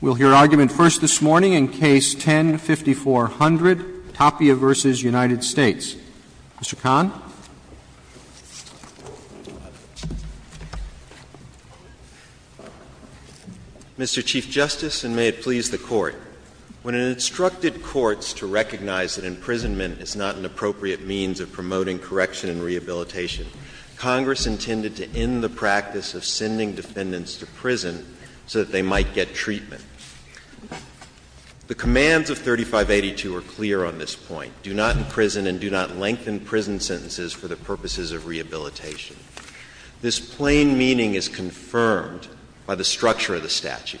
We'll hear argument first this morning in Case No. 10-5400, Tapia v. United States. Mr. Kahn. Mr. Chief Justice, and may it please the Court. When it instructed courts to recognize that imprisonment is not an appropriate means of promoting correction and rehabilitation, Congress intended to end the practice of sending defendants to prison so that they might get treatment. The commands of 3582 are clear on this point. Do not imprison and do not lengthen prison sentences for the purposes of rehabilitation. This plain meaning is confirmed by the structure of the statute.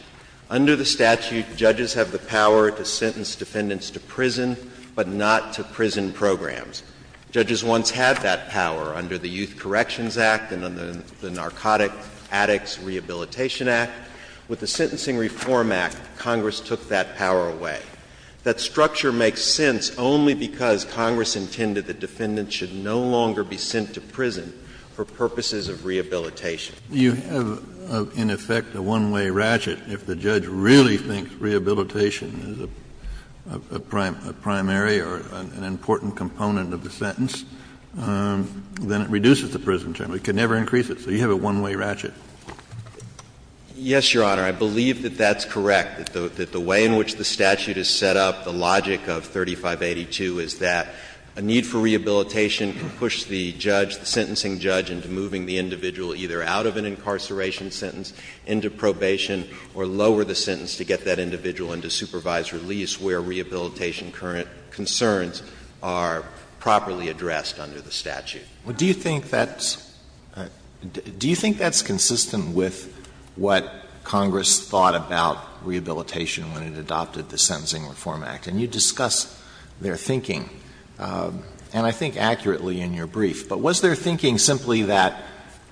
Under the statute, judges have the power to sentence defendants to prison, but not to prison programs. Judges once had that power under the Youth Corrections Act and under the Narcotic Addicts Rehabilitation Act. With the Sentencing Reform Act, Congress took that power away. That structure makes sense only because Congress intended that defendants should no longer be sent to prison for purposes of rehabilitation. Kennedy, you have, in effect, a one-way ratchet. If the judge really thinks rehabilitation is a primary or an important component of the sentence, then it reduces the prison term. It can never increase it. So you have a one-way ratchet. Yes, Your Honor. I believe that that's correct, that the way in which the statute has set up the logic of 3582 is that a need for rehabilitation can push the judge, the sentencing judge, into moving the individual either out of an incarceration sentence, into probation, or lower the sentence to get that individual into supervised release where rehabilitation current concerns are properly addressed under the statute. Well, do you think that's — do you think that's consistent with what Congress thought about rehabilitation when it adopted the Sentencing Reform Act? And you discuss their thinking, and I think accurately in your brief. But was their thinking simply that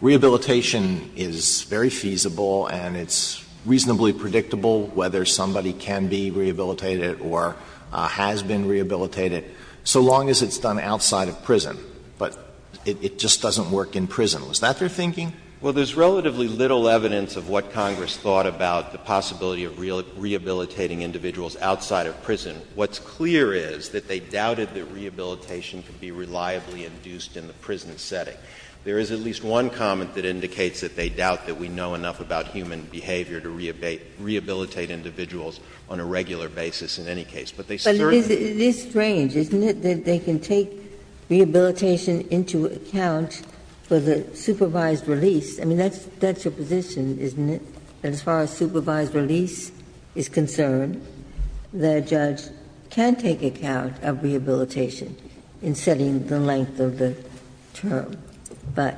rehabilitation is very feasible and it's reasonably predictable whether somebody can be rehabilitated or has been rehabilitated so long as it's done outside of prison, but it just doesn't work in prison? Was that their thinking? Well, there's relatively little evidence of what Congress thought about the possibility of rehabilitating individuals outside of prison. What's clear is that they doubted that rehabilitation could be reliably induced in the prison setting. There is at least one comment that indicates that they doubt that we know enough about human behavior to rehabilitate individuals on a regular basis in any case. But they certainly don't. But it is strange, isn't it, that they can take rehabilitation into account for the supervised release. I mean, that's your position, isn't it, that as far as supervised release is concerned, the judge can take account of rehabilitation in setting the length of the term, but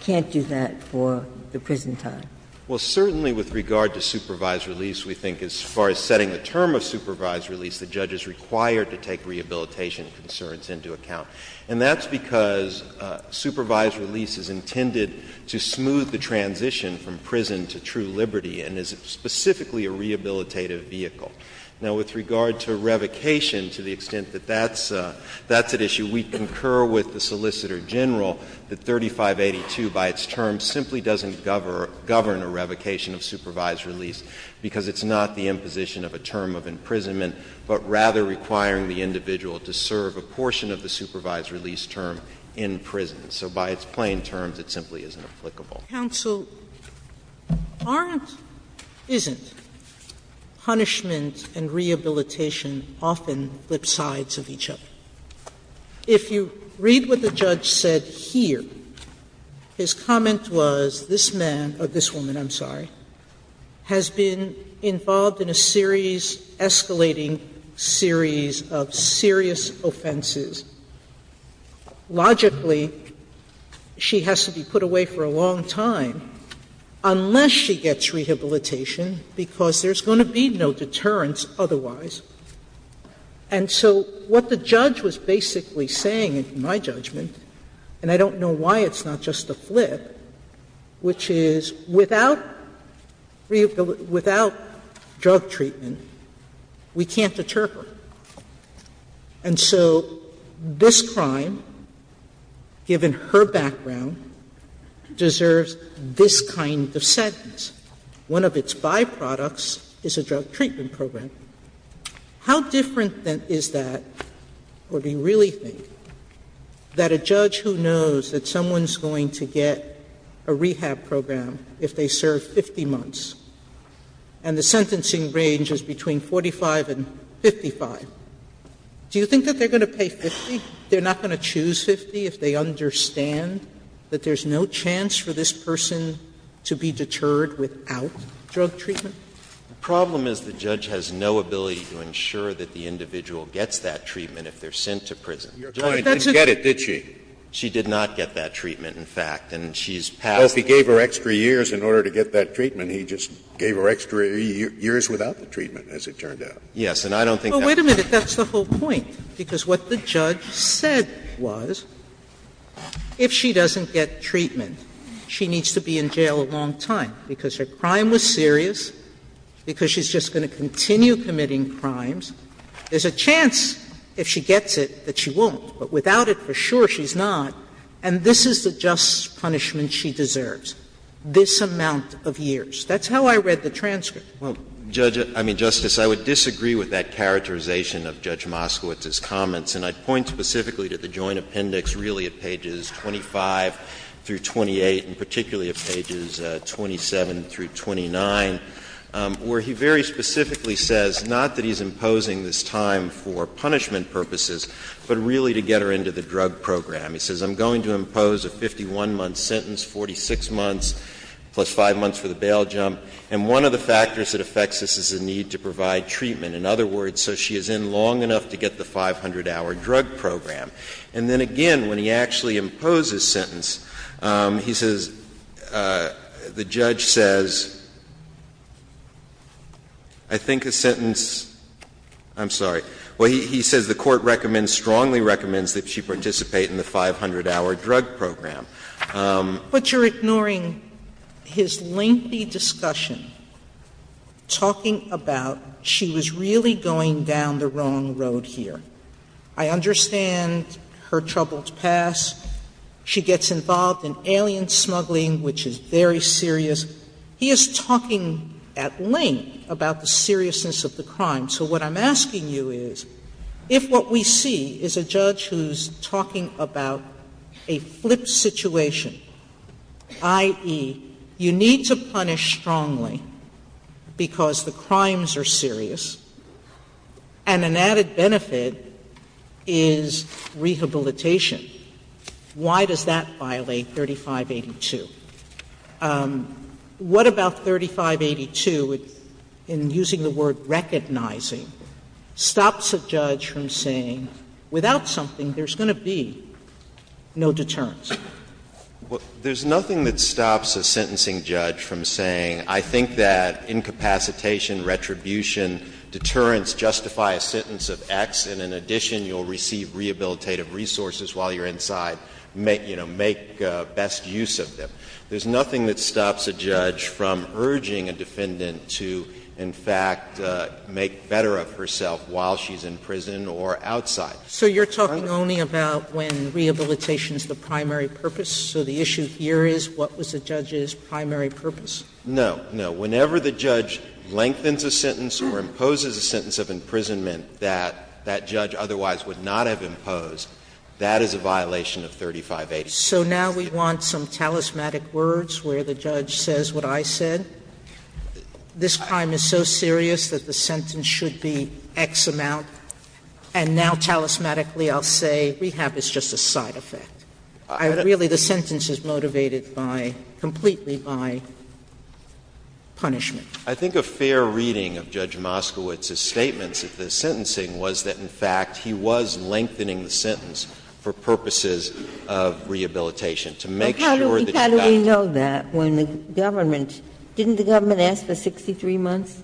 can't do that for the prison time? Well, certainly with regard to supervised release, we think as far as setting the term of supervised release, the judge is required to take rehabilitation concerns into account. And that's because supervised release is intended to smooth the transition from prison to true liberty and is specifically a rehabilitative vehicle. Now, with regard to revocation, to the extent that that's at issue, we concur with the Solicitor General that 3582 by its term simply doesn't govern a revocation of supervised release because it's not the imposition of a term of imprisonment, but rather requiring the individual to serve a portion of the supervised release term in prison. So by its plain terms, it simply isn't applicable. Sotomayor's counsel, aren't, isn't, punishment and rehabilitation often lip-sides of each other. If you read what the judge said here, his comment was this man or this woman, I'm sorry, has been involved in a series, escalating series of serious offenses. Logically, she has to be put away for a long time unless she gets rehabilitation because there's going to be no deterrence otherwise. And so what the judge was basically saying, in my judgment, and I don't know why it's not just a flip, which is without drug treatment, we can't deter her. And so this crime, given her background, deserves this kind of sentence. One of its byproducts is a drug treatment program. How different is that, or do you really think, that a judge who knows that someone's going to get a rehab program if they serve 50 months and the sentencing range is between 45 and 55, do you think that they're going to pay 50? They're not going to choose 50 if they understand that there's no chance for this person to be deterred without drug treatment? The problem is the judge has no ability to ensure that the individual gets that treatment if they're sent to prison. Scalia, you didn't get it, did she? She did not get that treatment, in fact, and she's passed. Well, if he gave her extra years in order to get that treatment, he just gave her extra years without the treatment, as it turned out. Yes, and I don't think that's true. Sotomayor, that's the whole point, because what the judge said was if she doesn't get treatment, she needs to be in jail a long time, because her crime was serious, because she's just going to continue committing crimes. There's a chance if she gets it that she won't, but without it, for sure she's not, and this is the just punishment she deserves, this amount of years. That's how I read the transcript. Well, Judge — I mean, Justice, I would disagree with that characterization of Judge Moskowitz's comments, and I'd point specifically to the joint appendix really at pages 25 through 28, and particularly at pages 27 through 29, where he very specifically says not that he's imposing this time for punishment purposes, but really to get her into the drug program. He says, I'm going to impose a 51-month sentence, 46 months plus 5 months for the trial jump, and one of the factors that affects this is a need to provide treatment. In other words, so she is in long enough to get the 500-hour drug program. And then again, when he actually imposes sentence, he says, the judge says, I think a sentence — I'm sorry. Well, he says the Court recommends, strongly recommends that she participate in the 500-hour drug program. Sotomayor, but you're ignoring his lengthy discussion, talking about she was really going down the wrong road here. I understand her troubled past. She gets involved in alien smuggling, which is very serious. He is talking at length about the seriousness of the crime. So what I'm asking you is, if what we see is a judge who's talking about a flipped situation, i.e., you need to punish strongly because the crimes are serious, and an added benefit is rehabilitation, why does that violate 3582? What about 3582, in using the word recognizing, stops a judge from saying, without something there's going to be no deterrence? There's nothing that stops a sentencing judge from saying, I think that incapacitation, retribution, deterrence justify a sentence of X, and in addition you'll receive rehabilitative resources while you're inside, make best use of them. There's nothing that stops a judge from urging a defendant to, in fact, make better of herself while she's in prison or outside. Sotomayor, so you're talking only about when rehabilitation is the primary purpose? So the issue here is, what was the judge's primary purpose? No, no. Whenever the judge lengthens a sentence or imposes a sentence of imprisonment that that judge otherwise would not have imposed, that is a violation of 3582. So now we want some talismanic words where the judge says what I said? This crime is so serious that the sentence should be X amount, and now talismanically I'll say rehab is just a side effect. Really, the sentence is motivated by, completely by punishment. I think a fair reading of Judge Moskowitz's statements at the sentencing was that, in fact, he was lengthening the sentence for purposes of rehabilitation to make sure that you got. But how do we know that when the government, didn't the government ask for 63 months?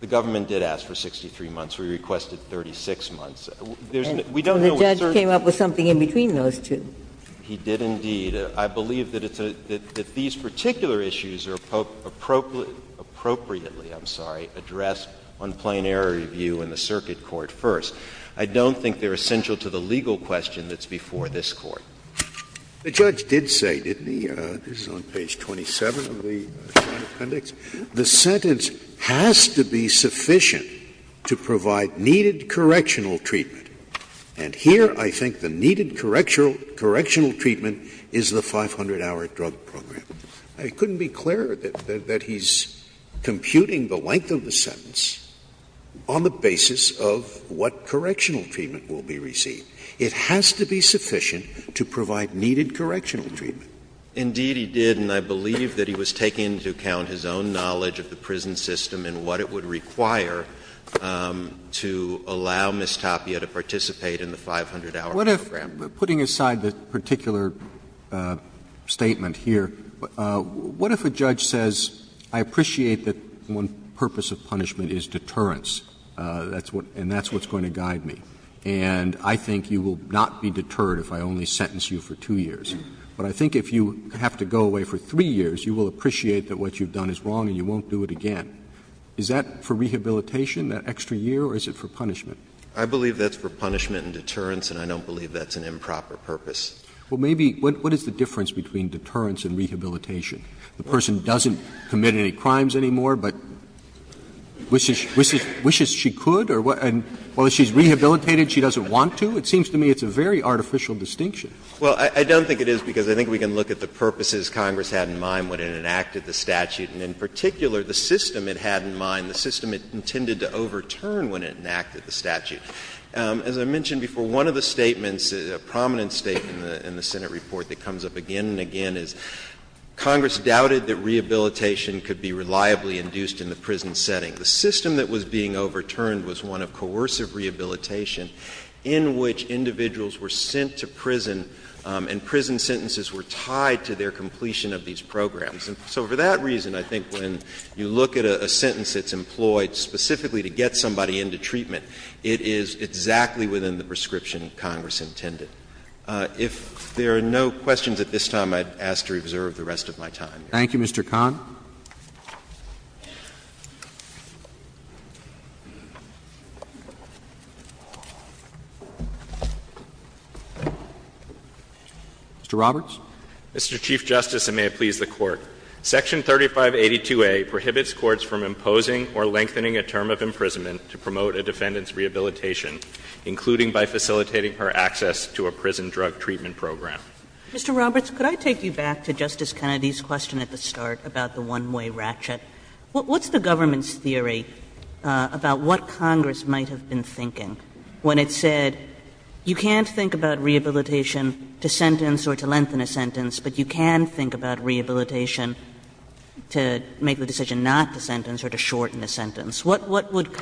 The government did ask for 63 months. We requested 36 months. We don't know when the circuit court asked for 63 months, and the judge came up with something in between those two. He did, indeed. I believe that it's a – that these particular issues are appropriate – appropriately, I'm sorry, addressed on plain error review in the circuit court first. I don't think they're essential to the legal question that's before this Court. Scalia. The judge did say, didn't he, this is on page 27 of the Appendix, the sentence has to be sufficient to provide needed correctional treatment. And here I think the needed correctional treatment is the 500-hour drug program. It couldn't be clearer that he's computing the length of the sentence on the basis of what correctional treatment will be received. It has to be sufficient to provide needed correctional treatment. Indeed, he did, and I believe that he was taking into account his own knowledge of the prison system and what it would require to allow Ms. Tapia to participate in the 500-hour program. Roberts. What if, putting aside the particular statement here, what if a judge says, I appreciate that one purpose of punishment is deterrence, and that's what's going to guide me. And I think you will not be deterred if I only sentence you for 2 years. But I think if you have to go away for 3 years, you will appreciate that what you've done is wrong and you won't do it again. Is that for rehabilitation, that extra year, or is it for punishment? I believe that's for punishment and deterrence, and I don't believe that's an improper purpose. Well, maybe what is the difference between deterrence and rehabilitation? The person doesn't commit any crimes anymore, but wishes she could, and while she's rehabilitated, she doesn't want to? It seems to me it's a very artificial distinction. Well, I don't think it is, because I think we can look at the purposes Congress had in mind when it enacted the statute, and in particular, the system it had in mind, the system it intended to overturn when it enacted the statute. As I mentioned before, one of the statements, a prominent statement in the Senate report that comes up again and again, is Congress doubted that rehabilitation could be reliably induced in the prison setting. The system that was being overturned was one of coercive rehabilitation, in which individuals were sent to prison and prison sentences were tied to their completion of these programs. And so for that reason, I think when you look at a sentence that's employed specifically to get somebody into treatment, it is exactly within the prescription Congress intended. If there are no questions at this time, I'd ask to reserve the rest of my time. Thank you, Mr. Kahn. Mr. Roberts. Mr. Chief Justice, and may it please the Court. Section 3582A prohibits courts from imposing or lengthening a term of imprisonment to promote a defendant's rehabilitation, including by facilitating her access to a prison drug treatment program. Mr. Roberts, could I take you back to Justice Kennedy's question at the start about the one-way ratchet? What's the government's theory about what Congress might have been thinking when it said, you can't think about rehabilitation to sentence or to lengthen a sentence, but you can think about rehabilitation to make the decision not to sentence or to shorten a sentence? What would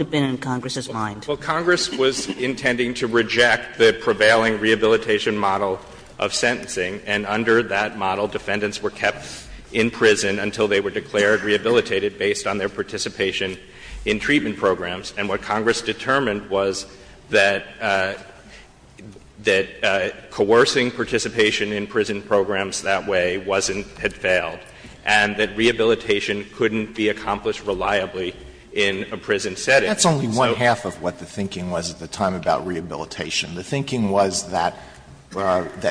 have been in Congress's mind? Well, Congress was intending to reject the prevailing rehabilitation model of sentencing, and under that model, defendants were kept in prison until they were declared rehabilitated based on their participation in treatment programs. And what Congress determined was that coercing participation in prison programs that way wasn't — had failed, and that rehabilitation couldn't be accomplished reliably in a prison setting. That's only one-half of what the thinking was at the time about rehabilitation. The thinking was that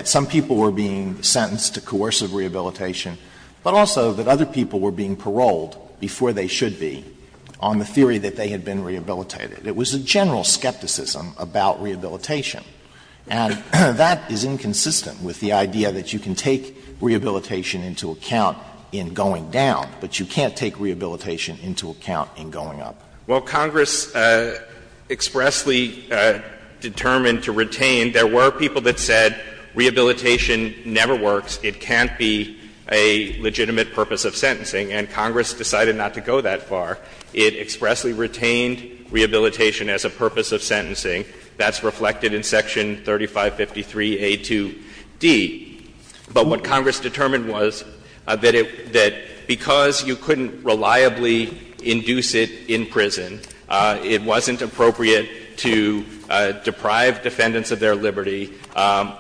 some people were being sentenced to coercive rehabilitation, but also that other people were being paroled before they should be on the theory that they had been rehabilitated. It was a general skepticism about rehabilitation. And that is inconsistent with the idea that you can take rehabilitation into account in going down, but you can't take rehabilitation into account in going up. Well, Congress expressly determined to retain. There were people that said rehabilitation never works, it can't be a legitimate purpose of sentencing, and Congress decided not to go that far. It expressly retained rehabilitation as a purpose of sentencing. That's reflected in Section 3553A2D. But what Congress determined was that it — that because you couldn't reliably induce it in prison, it wasn't appropriate to deprive defendants of their liberty,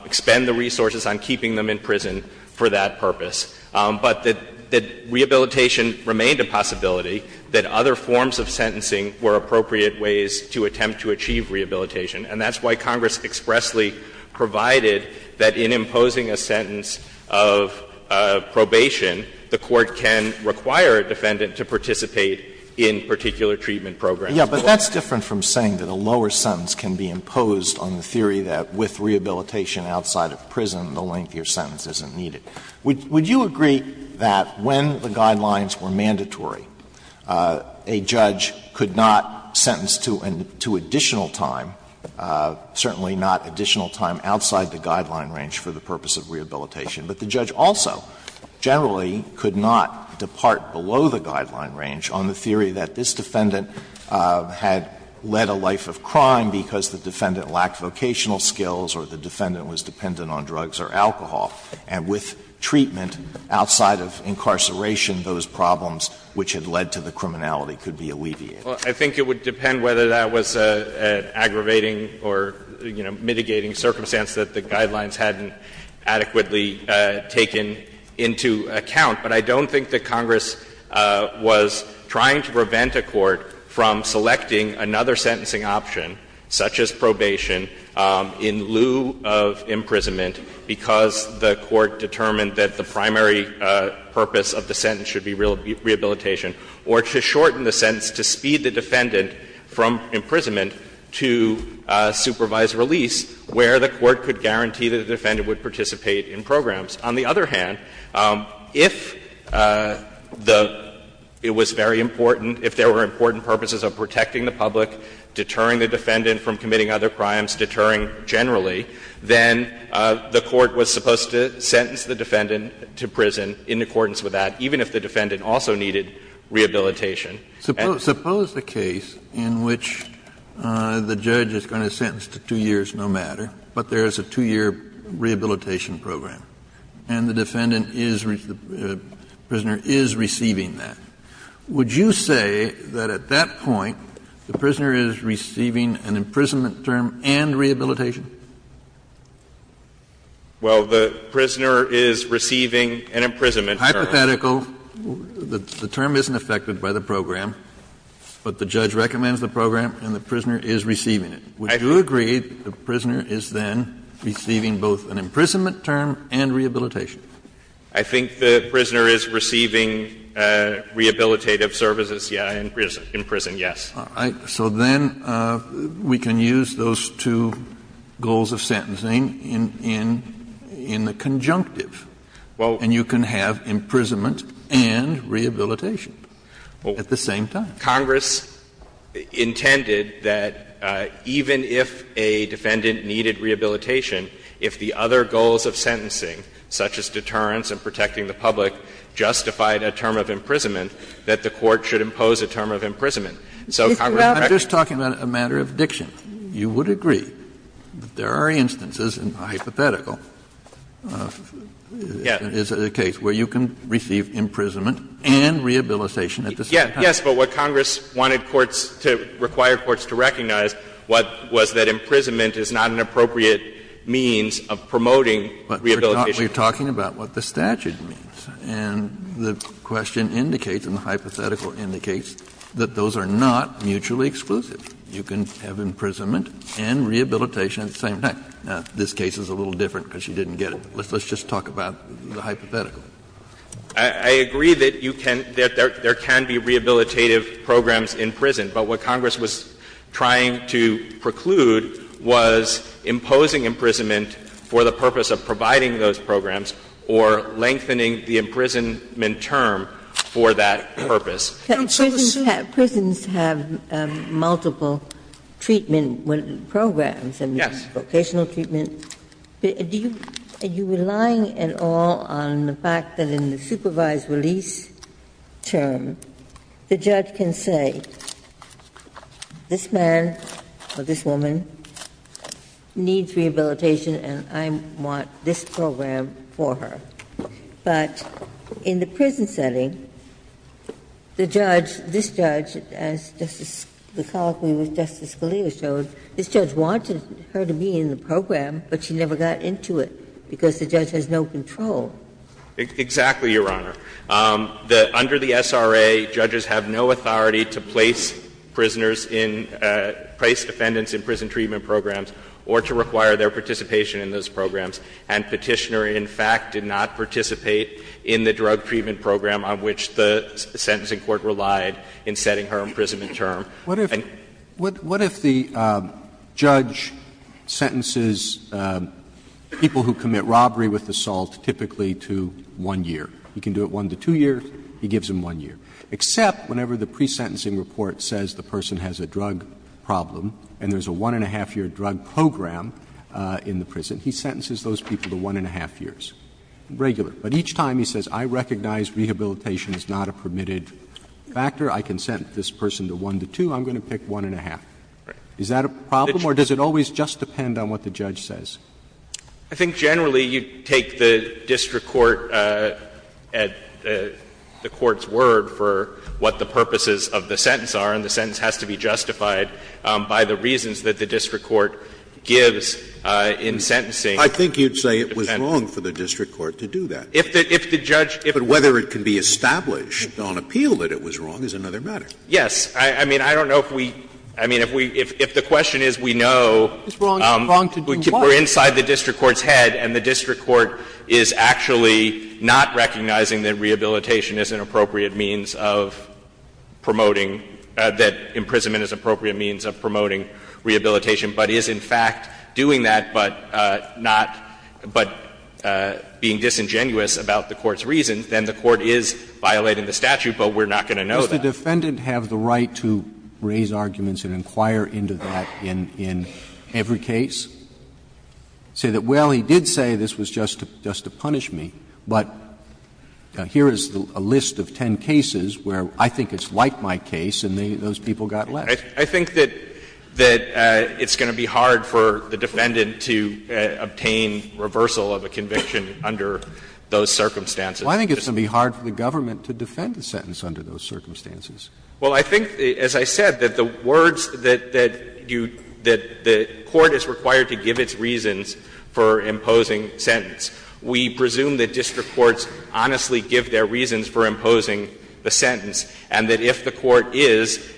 expend the resources on keeping them in prison for that purpose. But that — that rehabilitation remained a possibility, that other forms of sentencing were appropriate ways to attempt to achieve rehabilitation, and that's why Congress expressly provided that in imposing a sentence of probation, the Court can require a defendant to participate in particular treatment programs. Alito, but that's different from saying that a lower sentence can be imposed on the theory that with rehabilitation outside of prison, the lengthier sentence isn't needed. Would you agree that when the guidelines were mandatory, a judge could not sentence to an — to additional time, certainly not additional time outside the guideline range for the purpose of rehabilitation, but the judge also generally could not depart below the guideline range on the theory that this defendant had led a life of crime because the defendant lacked vocational skills or the defendant was dependent on drugs or alcohol, and with treatment outside of incarceration, those problems which had led to the criminality could be alleviated? Well, I think it would depend whether that was an aggravating or, you know, mitigating circumstance that the guidelines hadn't adequately taken into account. But I don't think that Congress was trying to prevent a court from selecting another sentencing option, such as probation, in lieu of imprisonment because the court determined that the primary purpose of the sentence should be rehabilitation, or to shorten the sentence to speed the defendant from imprisonment to supervised release, where the court could guarantee that the defendant would participate in programs. On the other hand, if the — it was very important, if there were important purposes of protecting the public, deterring the defendant from committing other crimes, deterring generally, then the court was supposed to sentence the defendant to prison in accordance with that, even if the defendant also needed rehabilitation. Kennedy, suppose the case in which the judge is going to sentence to 2 years no matter, but there is a 2-year rehabilitation program and the defendant is — the prisoner is receiving that. Would you say that at that point the prisoner is receiving an imprisonment term and rehabilitation? Well, the prisoner is receiving an imprisonment term. Hypothetical. The term isn't affected by the program, but the judge recommends the program and the prisoner is receiving it. Would you agree the prisoner is then receiving both an imprisonment term and rehabilitation? I think the prisoner is receiving rehabilitative services, yes, in prison, yes. So then we can use those two goals of sentencing in the conjunctive. Well. And you can have imprisonment and rehabilitation at the same time. Congress intended that even if a defendant needed rehabilitation, if the other goals of sentencing, such as deterrence and protecting the public, justified a term of imprisonment, that the court should impose a term of imprisonment. So Congress recognized that. I'm just talking about a matter of diction. You would agree that there are instances, and hypothetical is the case, where you can receive imprisonment and rehabilitation at the same time. Yes, but what Congress wanted courts to — required courts to recognize was that imprisonment is not an appropriate means of promoting rehabilitation. But we're talking about what the statute means, and the question indicates and the hypothetical indicates that those are not mutually exclusive. You can have imprisonment and rehabilitation at the same time. Now, this case is a little different because you didn't get it. Let's just talk about the hypothetical. I agree that you can — that there can be rehabilitative programs in prison, but what does imposing imprisonment for the purpose of providing those programs or lengthening the imprisonment term for that purpose? Don't you see the same? Prisons have multiple treatment programs and vocational treatment. Yes. Are you relying at all on the fact that in the supervised release term, the judge can say, this man or this woman needs rehabilitation and I want this program for her. But in the prison setting, the judge, this judge, as Justice — the colloquy with Justice Scalia showed, this judge wanted her to be in the program, but she never got into it because the judge has no control. Exactly, Your Honor. Under the SRA, judges have no authority to place prisoners in — place defendants in prison treatment programs or to require their participation in those programs. And Petitioner, in fact, did not participate in the drug treatment program on which the sentencing court relied in setting her imprisonment term. What if — what if the judge sentences people who commit robbery with assault typically to one year? He can do it one to two years. He gives them one year. Except whenever the pre-sentencing report says the person has a drug problem and there's a one-and-a-half-year drug program in the prison, he sentences those people to one-and-a-half years, regular. But each time he says, I recognize rehabilitation is not a permitted factor, I consent this person to one to two, I'm going to pick one-and-a-half. Is that a problem or does it always just depend on what the judge says? I think generally you take the district court at the court's word for what the purposes of the sentence are, and the sentence has to be justified by the reasons that the district court gives in sentencing. I think you'd say it was wrong for the district court to do that. If the judge — But whether it can be established on appeal that it was wrong is another matter. Yes. I mean, I don't know if we — I mean, if we — if the question is we know — It's wrong to do what? We're inside the district court's head and the district court is actually not recognizing that rehabilitation is an appropriate means of promoting — that imprisonment is an appropriate means of promoting rehabilitation, but is in fact doing that, but not — but being disingenuous about the court's reasons, then the court is violating the statute, but we're not going to know that. Does the defendant have the right to raise arguments and inquire into that in — in every case? Say that, well, he did say this was just to — just to punish me, but here is a list of 10 cases where I think it's like my case and those people got left. I think that — that it's going to be hard for the defendant to obtain reversal of a conviction under those circumstances. Well, I think it's going to be hard for the government to defend the sentence under those circumstances. Well, I think, as I said, that the words that you — that the court is required to give its reasons for imposing sentence, we presume that district courts honestly give their reasons for imposing the sentence, and that if the court is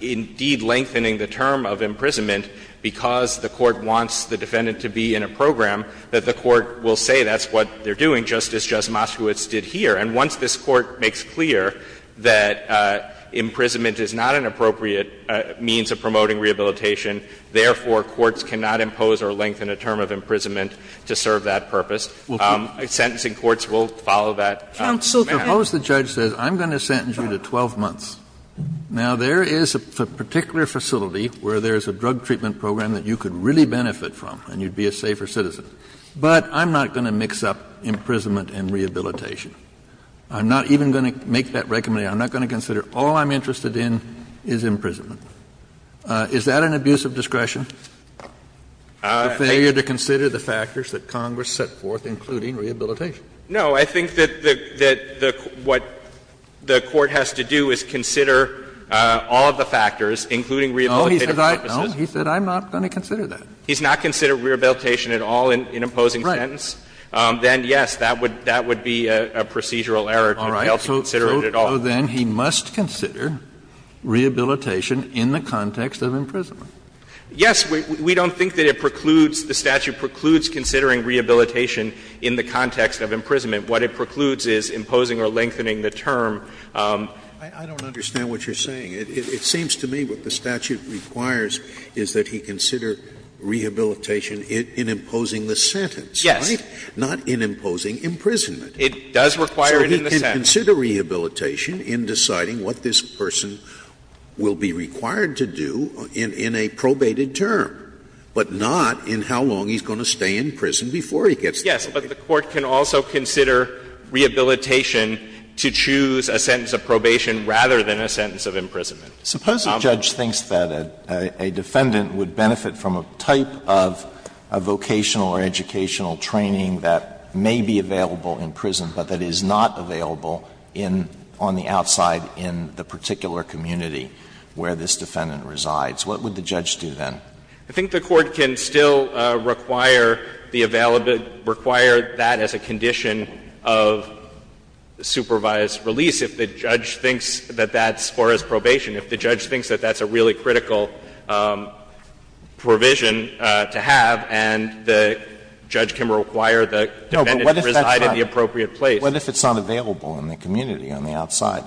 indeed lengthening the term of imprisonment because the court wants the defendant to be in a program, that the court will say that's what they're doing, just as Justice Moskowitz did here, and once this Court makes clear that imprisonment is not an appropriate means of promoting rehabilitation, therefore, courts cannot impose or lengthen a term of imprisonment to serve that purpose. Sentencing courts will follow that. Counsel, go ahead. Suppose the judge says, I'm going to sentence you to 12 months. Now, there is a particular facility where there is a drug treatment program that you could really benefit from and you'd be a safer citizen, but I'm not going to mix up imprisonment and rehabilitation. I'm not even going to make that recommendation. I'm not going to consider all I'm interested in is imprisonment. Is that an abuse of discretion, the failure to consider the factors that Congress set forth, including rehabilitation? No. I think that the — that what the Court has to do is consider all of the factors, including rehabilitative purposes. No, he said I'm not going to consider that. He's not considered rehabilitation at all in imposing sentence. Right. Then, yes, that would be a procedural error to fail to consider it at all. All right. So then he must consider rehabilitation in the context of imprisonment. Yes. We don't think that it precludes, the statute precludes considering rehabilitation in the context of imprisonment. What it precludes is imposing or lengthening the term. I don't understand what you're saying. It seems to me what the statute requires is that he consider rehabilitation in imposing the sentence, right? Not in imposing imprisonment. It does require it in the sentence. So he can consider rehabilitation in deciding what this person will be required to do in a probated term, but not in how long he's going to stay in prison before he gets there. Yes, but the Court can also consider rehabilitation to choose a sentence of probation rather than a sentence of imprisonment. Suppose a judge thinks that a defendant would benefit from a type of a vocational or educational training that may be available in prison, but that is not available on the outside in the particular community where this defendant resides. What would the judge do then? I think the Court can still require the available, require that as a condition of supervised release if the judge thinks that that's as far as probation, if the judge can require the defendant to reside in the appropriate place. But what if it's not available in the community on the outside?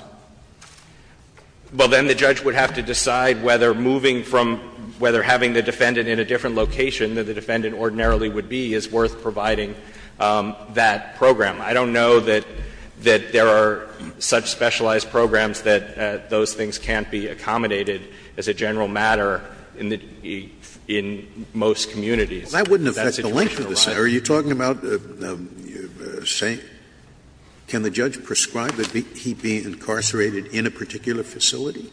Well, then the judge would have to decide whether moving from, whether having the defendant in a different location than the defendant ordinarily would be is worth providing that program. I don't know that there are such specialized programs that those things can't be accommodated as a general matter in most communities. If that situation arises. Scalia, are you talking about, say, can the judge prescribe that he be incarcerated in a particular facility?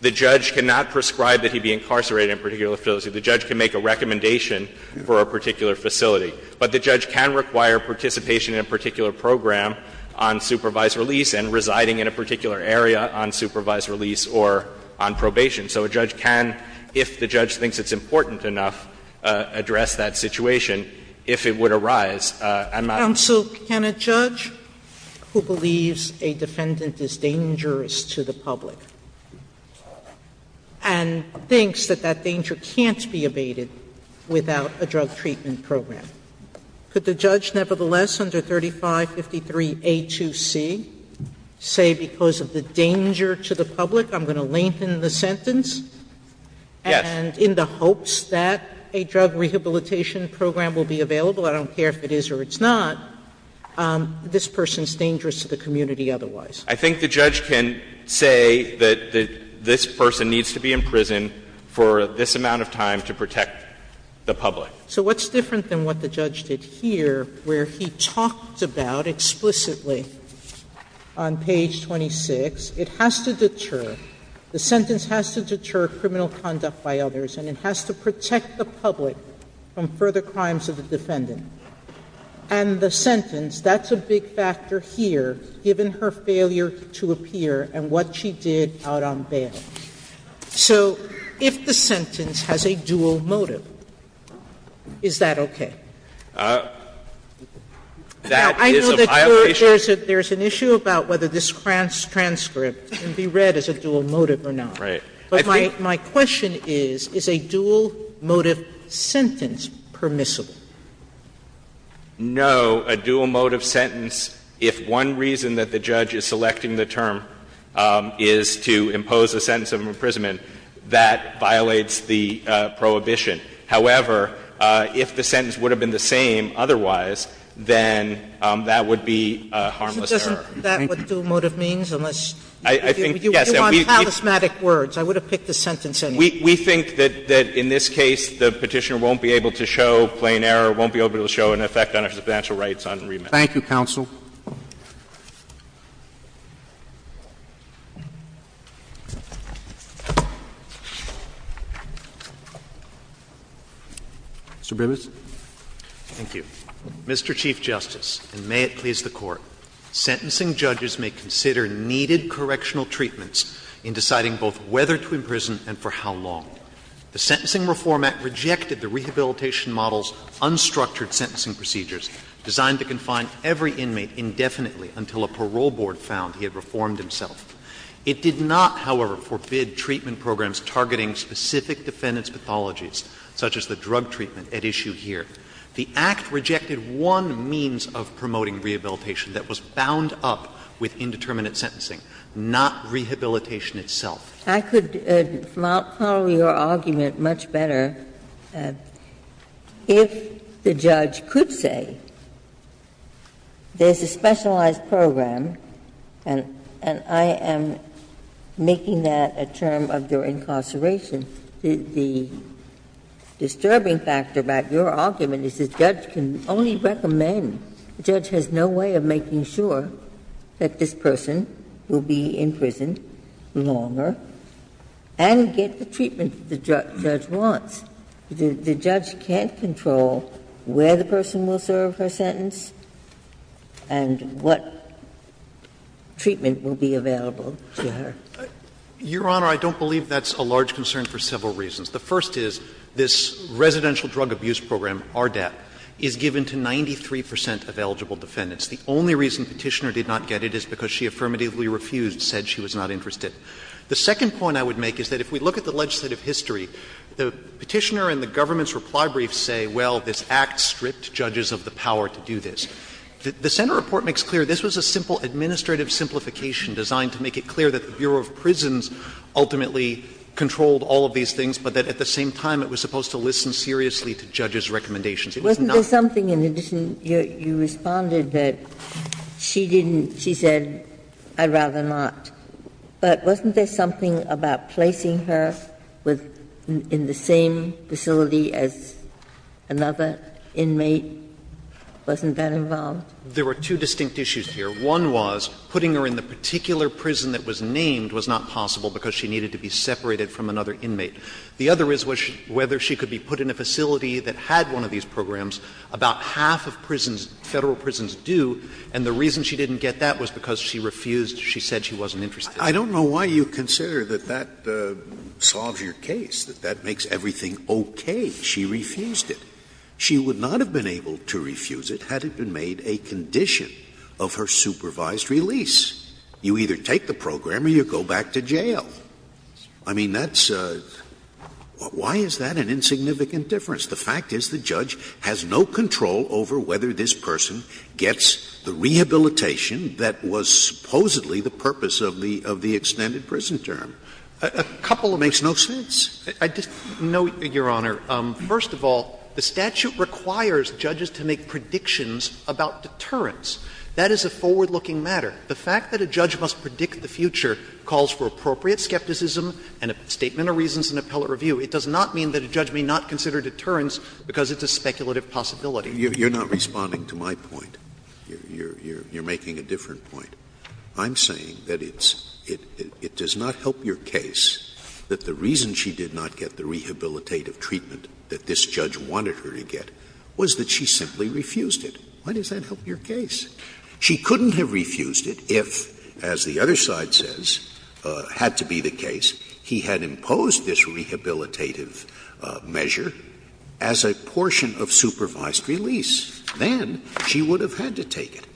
The judge cannot prescribe that he be incarcerated in a particular facility. The judge can make a recommendation for a particular facility. But the judge can require participation in a particular program on supervised release and residing in a particular area on supervised release or on probation. So a judge can, if the judge thinks it's important enough, address that situation if it would arise. And my question is, can a judge who believes a defendant is dangerous to the public and thinks that that danger can't be evaded without a drug treatment program, could the judge nevertheless under 3553a2c say because of the danger to the public I'm going to lengthen the sentence and in the hopes that a drug rehabilitation program will be available, I don't care if it is or it's not, this person is dangerous to the community otherwise? I think the judge can say that this person needs to be in prison for this amount of time to protect the public. So what's different than what the judge did here where he talked about explicitly on page 26, it has to deter, the sentence has to deter criminal conduct by others and it has to protect the public from further crimes of the defendant. And the sentence, that's a big factor here, given her failure to appear and what she did out on bail. Sotomayor So if the sentence has a dual motive, is that okay? Now, I know that there's an issue about whether this transcript can be read as a dual motive or not. But my question is, is a dual motive sentence permissible? No. A dual motive sentence, if one reason that the judge is selecting the term is to impose a sentence of imprisonment, that violates the prohibition. However, if the sentence would have been the same otherwise, then that would be a harmless error. Sotomayor So doesn't that what dual motive means? Unless you want charismatic words, I would have picked a sentence anyway. We think that in this case, the Petitioner won't be able to show plain error, won't be able to show an effect on her substantial rights on remand. Thank you, counsel. Mr. Bribis. Thank you. Mr. Chief Justice, and may it please the Court, sentencing judges may consider needed correctional treatments in deciding both whether to imprison and for how long. The Sentencing Reform Act rejected the rehabilitation model's unstructured sentencing procedures designed to confine every inmate indefinitely until a parole board found he had reformed himself. It did not, however, forbid treatment programs targeting specific defendant's as the drug treatment at issue here. The Act rejected one means of promoting rehabilitation that was bound up with indeterminate sentencing, not rehabilitation itself. I could follow your argument much better if the judge could say there's a specialized program, and I am making that a term of their incarceration, the District Court But the disturbing factor about your argument is the judge can only recommend the judge has no way of making sure that this person will be in prison longer and get the treatment that the judge wants. The judge can't control where the person will serve her sentence and what treatment will be available to her. Your Honor, I don't believe that's a large concern for several reasons. The first is this residential drug abuse program, RDAP, is given to 93 percent of eligible defendants. The only reason Petitioner did not get it is because she affirmatively refused, said she was not interested. The second point I would make is that if we look at the legislative history, the Petitioner and the government's reply briefs say, well, this Act stripped judges of the power to do this. The Senate report makes clear this was a simple administrative simplification designed to make it clear that the Bureau of Prisons ultimately controlled all of these things, but that at the same time it was supposed to listen seriously to judges' recommendations. It was not the case that judges could do this. Ginsburg, in addition, you responded that she didn't, she said, I'd rather not. But wasn't there something about placing her in the same facility as another inmate? Wasn't that involved? There were two distinct issues here. One was putting her in the particular prison that was named was not possible because she needed to be separated from another inmate. The other is whether she could be put in a facility that had one of these programs. About half of prisons, Federal prisons, do, and the reason she didn't get that was because she refused, she said she wasn't interested. Scalia, I don't know why you consider that that solves your case, that that makes everything okay. She refused it. She would not have been able to refuse it had it been made a condition of her supervised release. You either take the program or you go back to jail. I mean, that's a — why is that an insignificant difference? The fact is the judge has no control over whether this person gets the rehabilitation that was supposedly the purpose of the extended prison term. A couple makes no sense. I just note, Your Honor, first of all, the statute requires judges to make predictions about deterrence. That is a forward-looking matter. The fact that a judge must predict the future calls for appropriate skepticism and a statement of reasons in appellate review. It does not mean that a judge may not consider deterrence because it's a speculative possibility. Scalia, you're not responding to my point. You're making a different point. I'm saying that it's — it does not help your case that the reason she did not get the rehabilitative treatment that this judge wanted her to get was that she simply refused it. Why does that help your case? She couldn't have refused it if, as the other side says, had to be the case he had imposed this rehabilitative measure as a portion of supervised release. Then she would have had to take it.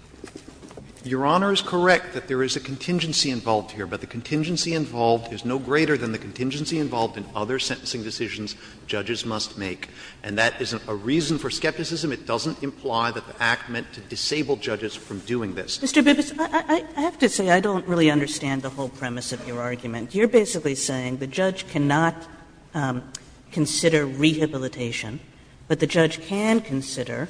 Your Honor is correct that there is a contingency involved here, but the contingency involved is no greater than the contingency involved in other sentencing decisions judges must make. And that isn't a reason for skepticism. It doesn't imply that the Act meant to disable judges from doing this. Kagan Mr. Bibas, I have to say I don't really understand the whole premise of your argument. You're basically saying the judge cannot consider rehabilitation, but the judge can consider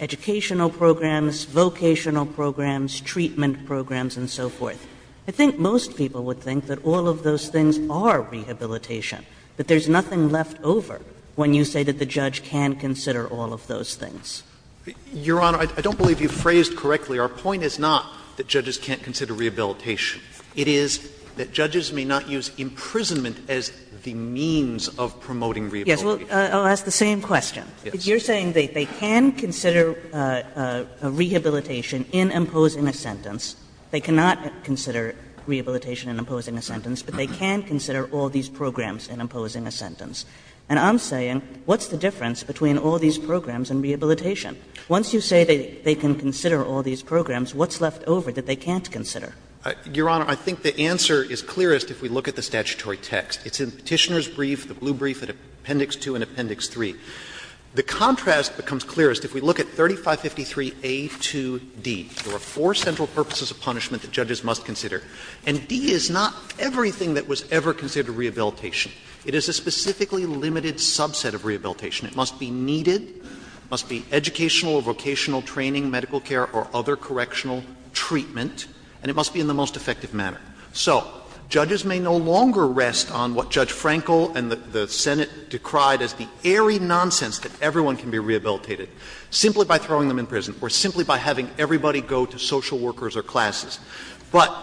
educational programs, vocational programs, treatment programs, and so forth. I think most people would think that all of those things are rehabilitation, but there's nothing left over when you say that the judge can consider all of those things. Bibas Your Honor, I don't believe you phrased correctly. Our point is not that judges can't consider rehabilitation. It is that judges may not use imprisonment as the means of promoting rehabilitation. Kagan Yes, well, I'll ask the same question. You're saying that they can consider rehabilitation in imposing a sentence. They cannot consider rehabilitation in imposing a sentence, but they can consider all these programs in imposing a sentence. And I'm saying, what's the difference between all these programs and rehabilitation? Once you say they can consider all these programs, what's left over that they can't consider? Bibas Your Honor, I think the answer is clearest if we look at the statutory text. It's in Petitioner's brief, the blue brief, at Appendix 2 and Appendix 3. The contrast becomes clearest if we look at 3553a to d. There are four central purposes of punishment that judges must consider, and d is not everything that was ever considered rehabilitation. It is a specifically limited subset of rehabilitation. It must be needed, it must be educational or vocational training, medical care or other correctional treatment, and it must be in the most effective manner. So judges may no longer rest on what Judge Frankel and the Senate decried as the airy nonsense that everyone can be rehabilitated simply by throwing them in prison or simply by having everybody go to social workers or classes. But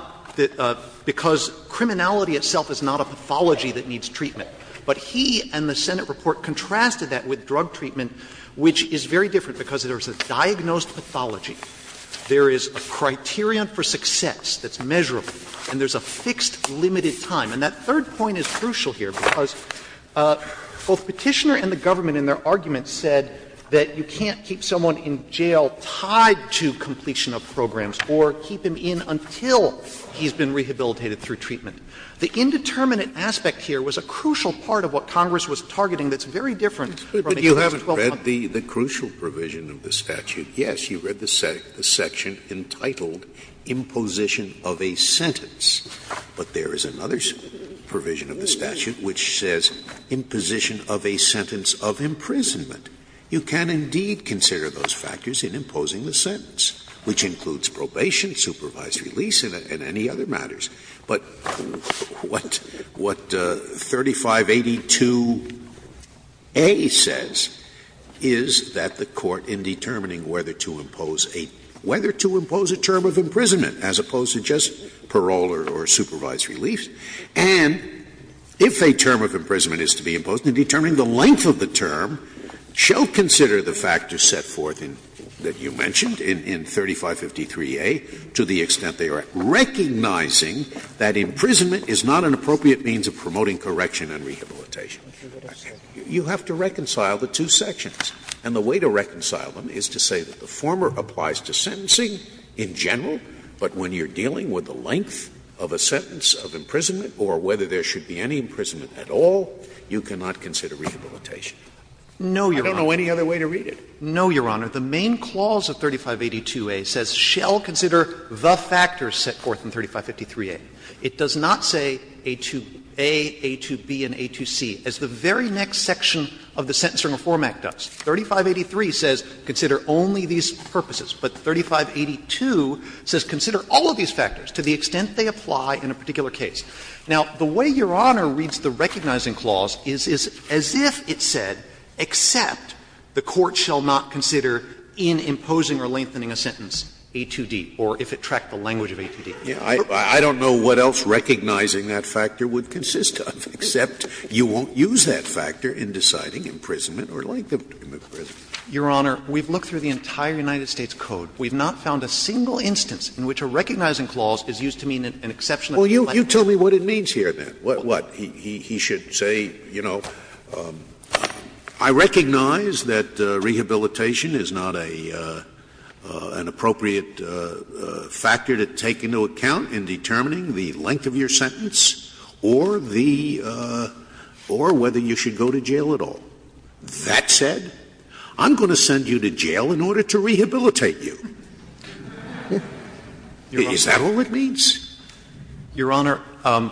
because criminality itself is not a pathology that needs treatment, but he and the Senate report contrasted that with drug treatment, which is very different because there is a diagnosed pathology, there is a criterion for success that's measurable, and there's a fixed limited time. And that third point is crucial here because both Petitioner and the government in their argument said that you can't keep someone in jail tied to completion of programs or keep him in until he's been rehabilitated through treatment. The indeterminate aspect here was a crucial part of what Congress was targeting that's very different from the U.S. 12-month provision. Scalia, you haven't read the crucial provision of the statute. Yes, you read the section entitled, Imposition of a Sentence, but there is another provision of the statute which says Imposition of a Sentence of Imprisonment. You can indeed consider those factors in imposing the sentence, which includes probation, supervised release, and any other matters. But what 3582a says is that the Court in determining whether to impose a term of imprisonment as opposed to just parole or supervised release, and if a term of imprisonment is to be imposed, and determining the length of the term, shall consider the factors set forth that you mentioned in 3553a, to the extent they are recognizing that imprisonment is not an appropriate means of promoting correction and rehabilitation. You have to reconcile the two sections, and the way to reconcile them is to say that the former applies to sentencing in general, but when you're dealing with the length of a sentence of imprisonment or whether there should be any imprisonment at all, you cannot consider rehabilitation. I don't know any other way to read it. No, Your Honor. The main clause of 3582a says shall consider the factors set forth in 3553a. It does not say a to a, a to b, and a to c, as the very next section of the Sentencing Reform Act does. 3583 says consider only these purposes, but 3582 says consider all of these factors to the extent they apply in a particular case. Now, the way Your Honor reads the recognizing clause is as if it said, except the court shall not consider in imposing or lengthening a sentence a to d, or if it tracked the language of a to d. Scalia, I don't know what else recognizing that factor would consist of, except you won't use that factor in deciding imprisonment or length of imprisonment. Your Honor, we've looked through the entire United States Code. We've not found a single instance in which a recognizing clause is used to mean an exception of a language. Scalia, you tell me what it means here, then. What? He should say, you know, I recognize that rehabilitation is not a, an appropriate factor to take into account in determining the length of your sentence or the, or whether you should go to jail at all. That said, I'm going to send you to jail in order to rehabilitate you. Is that all it means? Your Honor, a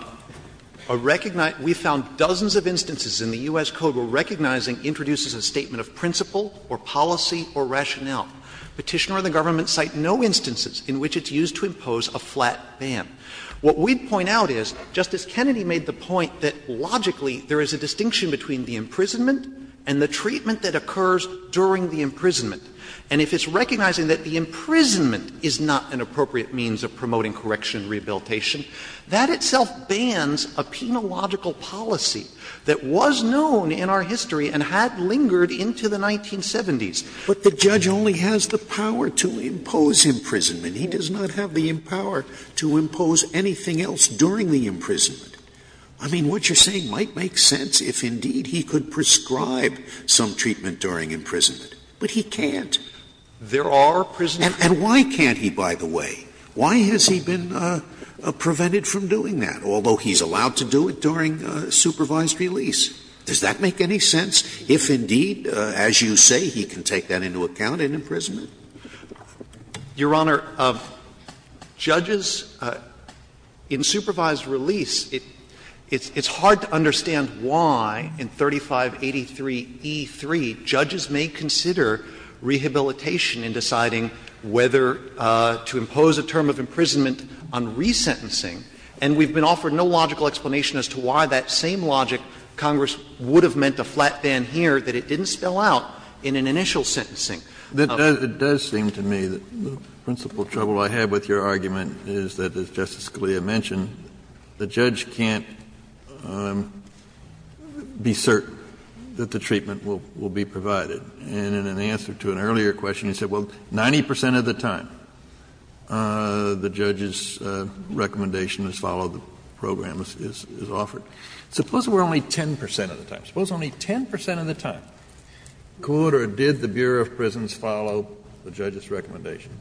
recognize we found dozens of instances in the U.S. Code where recognizing introduces a statement of principle or policy or rationale. Petitioner and the government cite no instances in which it's used to impose a flat ban. What we'd point out is Justice Kennedy made the point that logically there is a distinction between the imprisonment and the treatment that occurs during the imprisonment. And if it's recognizing that the imprisonment is not an appropriate means of promoting correction and rehabilitation, that itself bans a penological policy that was known in our history and had lingered into the 1970s. But the judge only has the power to impose imprisonment. He does not have the power to impose anything else during the imprisonment. I mean, what you're saying might make sense if indeed he could prescribe some treatment during imprisonment. But he can't. There are prisons. And why can't he, by the way? Why has he been prevented from doing that, although he's allowed to do it during supervised release? Does that make any sense if indeed, as you say, he can take that into account in imprisonment? Your Honor, judges in supervised release, it's hard to understand why in 3583e3 judges may consider rehabilitation in deciding whether to impose a term of imprisonment on resentencing. And we've been offered no logical explanation as to why that same logic, Congress would have meant a flat ban here, that it didn't spell out in an initial sentencing. Kennedy, it does seem to me that the principal trouble I have with your argument is that, as Justice Scalia mentioned, the judge can't be certain that the treatment will be provided. And in answer to an earlier question, he said, well, 90 percent of the time, the judge's recommendation is follow the program as offered. Suppose it were only 10 percent of the time. Suppose only 10 percent of the time could or did the Bureau of Prisons follow the judge's recommendation.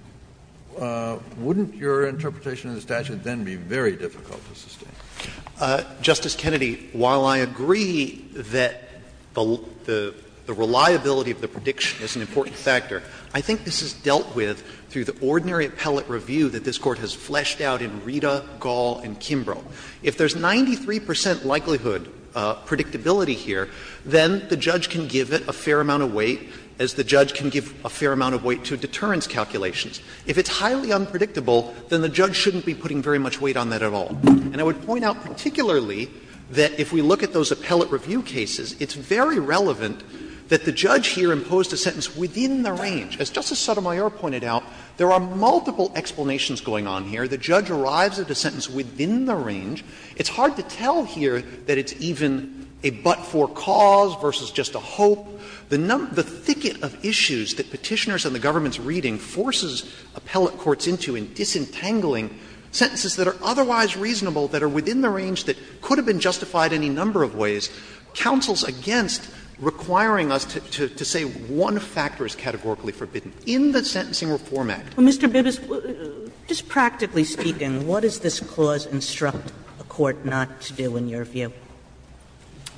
Justice Kennedy, while I agree that the reliability of the prediction is an important factor, I think this is dealt with through the ordinary appellate review that this Court has fleshed out in Rita, Gall, and Kimbrough. If there's 93 percent likelihood predictability here, then the judge can give it a fair amount of weight, as the judge can give a fair amount of weight to deterrence calculations. If it's highly unpredictable, then the judge shouldn't be putting very much weight on that at all. And I would point out particularly that if we look at those appellate review cases, it's very relevant that the judge here imposed a sentence within the range. As Justice Sotomayor pointed out, there are multiple explanations going on here. The judge arrives at a sentence within the range. It's hard to tell here that it's even a but-for cause versus just a hope. The number of issues that Petitioners and the government's reading forces appellate courts into in disentangling sentences that are otherwise reasonable, that are within the range that could have been justified any number of ways, counsels against requiring us to say one factor is categorically forbidden in the Sentencing Reform Act. Kagan Well, Mr. Bibas, just practically speaking, what does this clause instruct a court not to do in your view?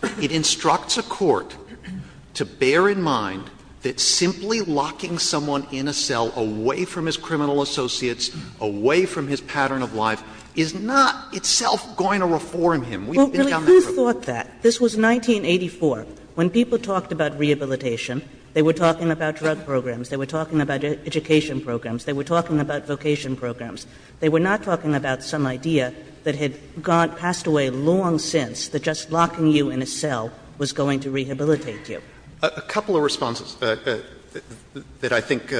Bibas It instructs a court to bear in mind that simply locking someone in a cell away from his criminal associates, away from his pattern of life, is not itself going to reform him. We've been down that road. Kagan Well, really, who thought that? This was 1984. When people talked about rehabilitation, they were talking about drug programs. They were talking about education programs. They were talking about vocation programs. They were not talking about some idea that had gone — passed away long since, that just locking you in a cell was going to rehabilitate you. Bibas A couple of responses that I think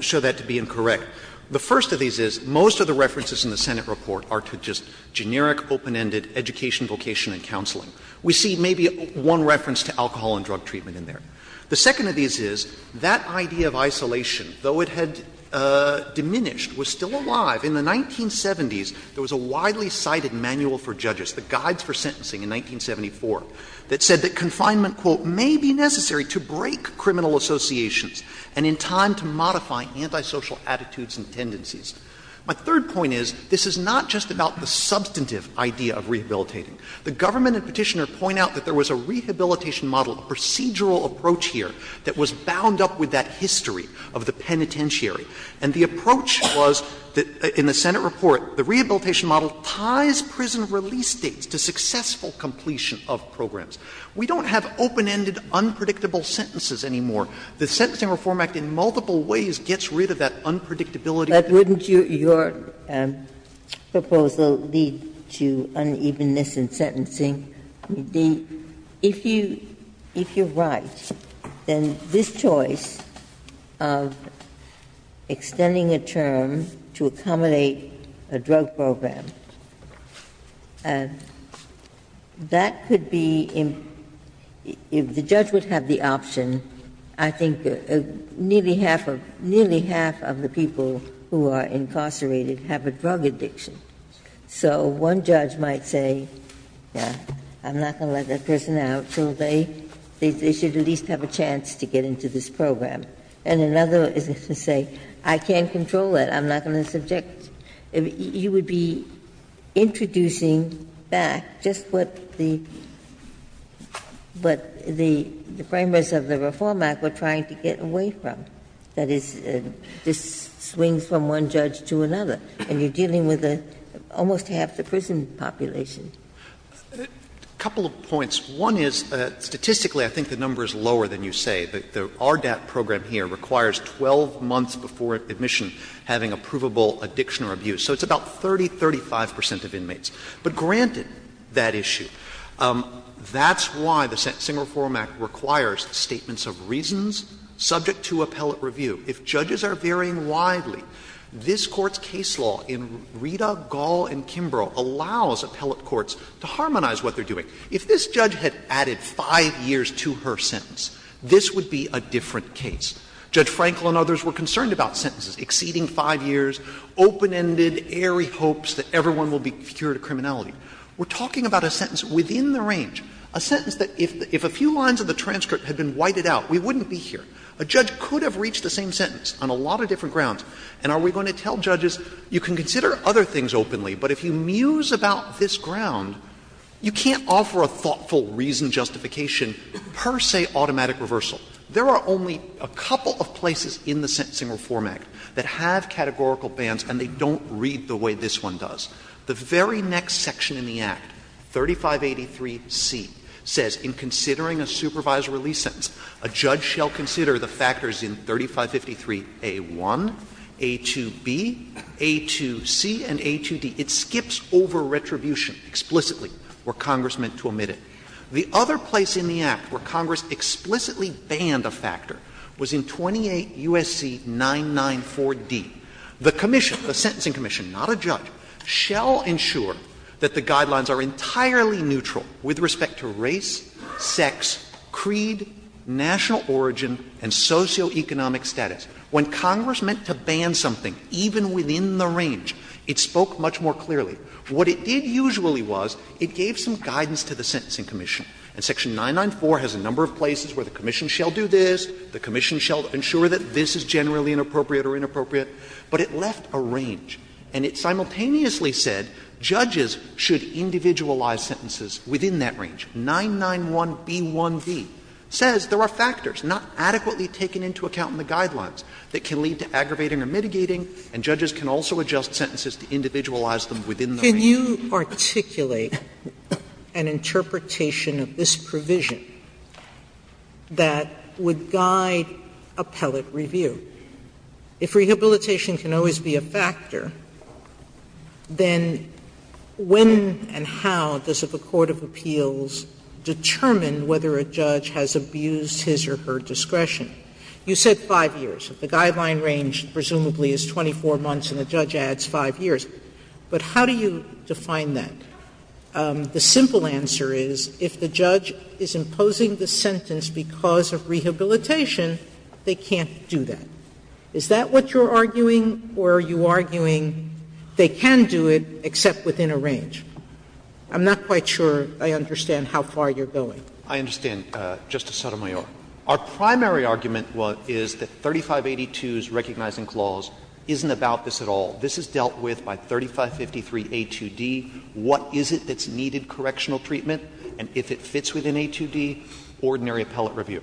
show that to be incorrect. The first of these is most of the references in the Senate report are to just generic, open-ended education, vocation and counseling. We see maybe one reference to alcohol and drug treatment in there. The second of these is that idea of isolation, though it had diminished, was still alive. In the 1970s, there was a widely cited manual for judges, the Guides for Sentencing in 1974, that said that confinement, quote, "'may be necessary to break criminal associations and in time to modify antisocial attitudes and tendencies.'" My third point is, this is not just about the substantive idea of rehabilitating. The government and Petitioner point out that there was a rehabilitation model, a procedural approach here, that was bound up with that history of the penitentiary. And the approach was that, in the Senate report, the rehabilitation model ties prison release dates to successful completion of programs. We don't have open-ended, unpredictable sentences anymore. The Sentencing Reform Act in multiple ways gets rid of that unpredictability. Ginsburg. But wouldn't your proposal lead to unevenness in sentencing? If you're right, then this choice of extending a term to accommodate a drug program that could be, if the judge would have the option, I think nearly half of the people who are incarcerated have a drug addiction. So one judge might say, I'm not going to let that person out until they, they should at least have a chance to get into this program. And another is going to say, I can't control that, I'm not going to subject. You would be introducing back just what the, what the framers of the Reform Act were trying to get away from, that is, this swings from one judge to another, and you're dealing with almost half the prison population. A couple of points. One is, statistically, I think the number is lower than you say. The RDAP program here requires 12 months before admission having a provable addiction or abuse. So it's about 30, 35 percent of inmates. But granted that issue, that's why the Sentencing Reform Act requires statements of reasons subject to appellate review. If judges are varying widely, this Court's case law in Rita, Gall, and Kimbrough allows appellate courts to harmonize what they're doing. If this judge had added 5 years to her sentence, this would be a different case. Judge Frankel and others were concerned about sentences exceeding 5 years, open-ended, airy hopes that everyone will be cured of criminality. We're talking about a sentence within the range, a sentence that if a few lines of the transcript had been whited out, we wouldn't be here. A judge could have reached the same sentence on a lot of different grounds. And are we going to tell judges, you can consider other things openly, but if you offer a thoughtful reason justification, per se, automatic reversal. There are only a couple of places in the Sentencing Reform Act that have categorical bans and they don't read the way this one does. The very next section in the Act, 3583C, says in considering a supervisory release sentence, a judge shall consider the factors in 3553A1, A2B, A2C, and A2D. It skips over retribution explicitly where Congress meant to omit it. The other place in the Act where Congress explicitly banned a factor was in 28 U.S.C. 994D. The commission, the sentencing commission, not a judge, shall ensure that the guidelines are entirely neutral with respect to race, sex, creed, national origin, and socioeconomic status. When Congress meant to ban something, even within the range, it spoke much more clearly. What it did usually was it gave some guidance to the sentencing commission. And section 994 has a number of places where the commission shall do this, the commission shall ensure that this is generally inappropriate or inappropriate, but it left a range. And it simultaneously said judges should individualize sentences within that range. 991B1B says there are factors not adequately taken into account in the guidelines that can lead to aggravating or mitigating, and judges can also adjust sentences to individualize them within the range. Sotomayor, can you articulate an interpretation of this provision that would guide appellate review? If rehabilitation can always be a factor, then when and how does the court of appeals determine whether a judge has abused his or her discretion? You said 5 years. The guideline range presumably is 24 months, and the judge adds 5 years. But how do you define that? The simple answer is if the judge is imposing the sentence because of rehabilitation, they can't do that. Is that what you're arguing, or are you arguing they can do it except within a range? I'm not quite sure I understand how far you're going. I understand, Justice Sotomayor. Our primary argument is that 3582's recognizing clause isn't about this at all. This is dealt with by 3553A2D. What is it that's needed correctional treatment, and if it fits within A2D, ordinary appellate review.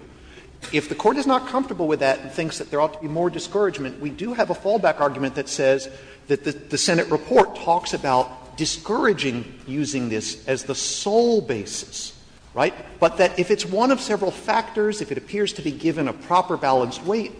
If the Court is not comfortable with that and thinks that there ought to be more discouragement, we do have a fallback argument that says that the Senate report talks about discouraging using this as the sole basis, right? But that if it's one of several factors, if it appears to be given a proper balanced weight,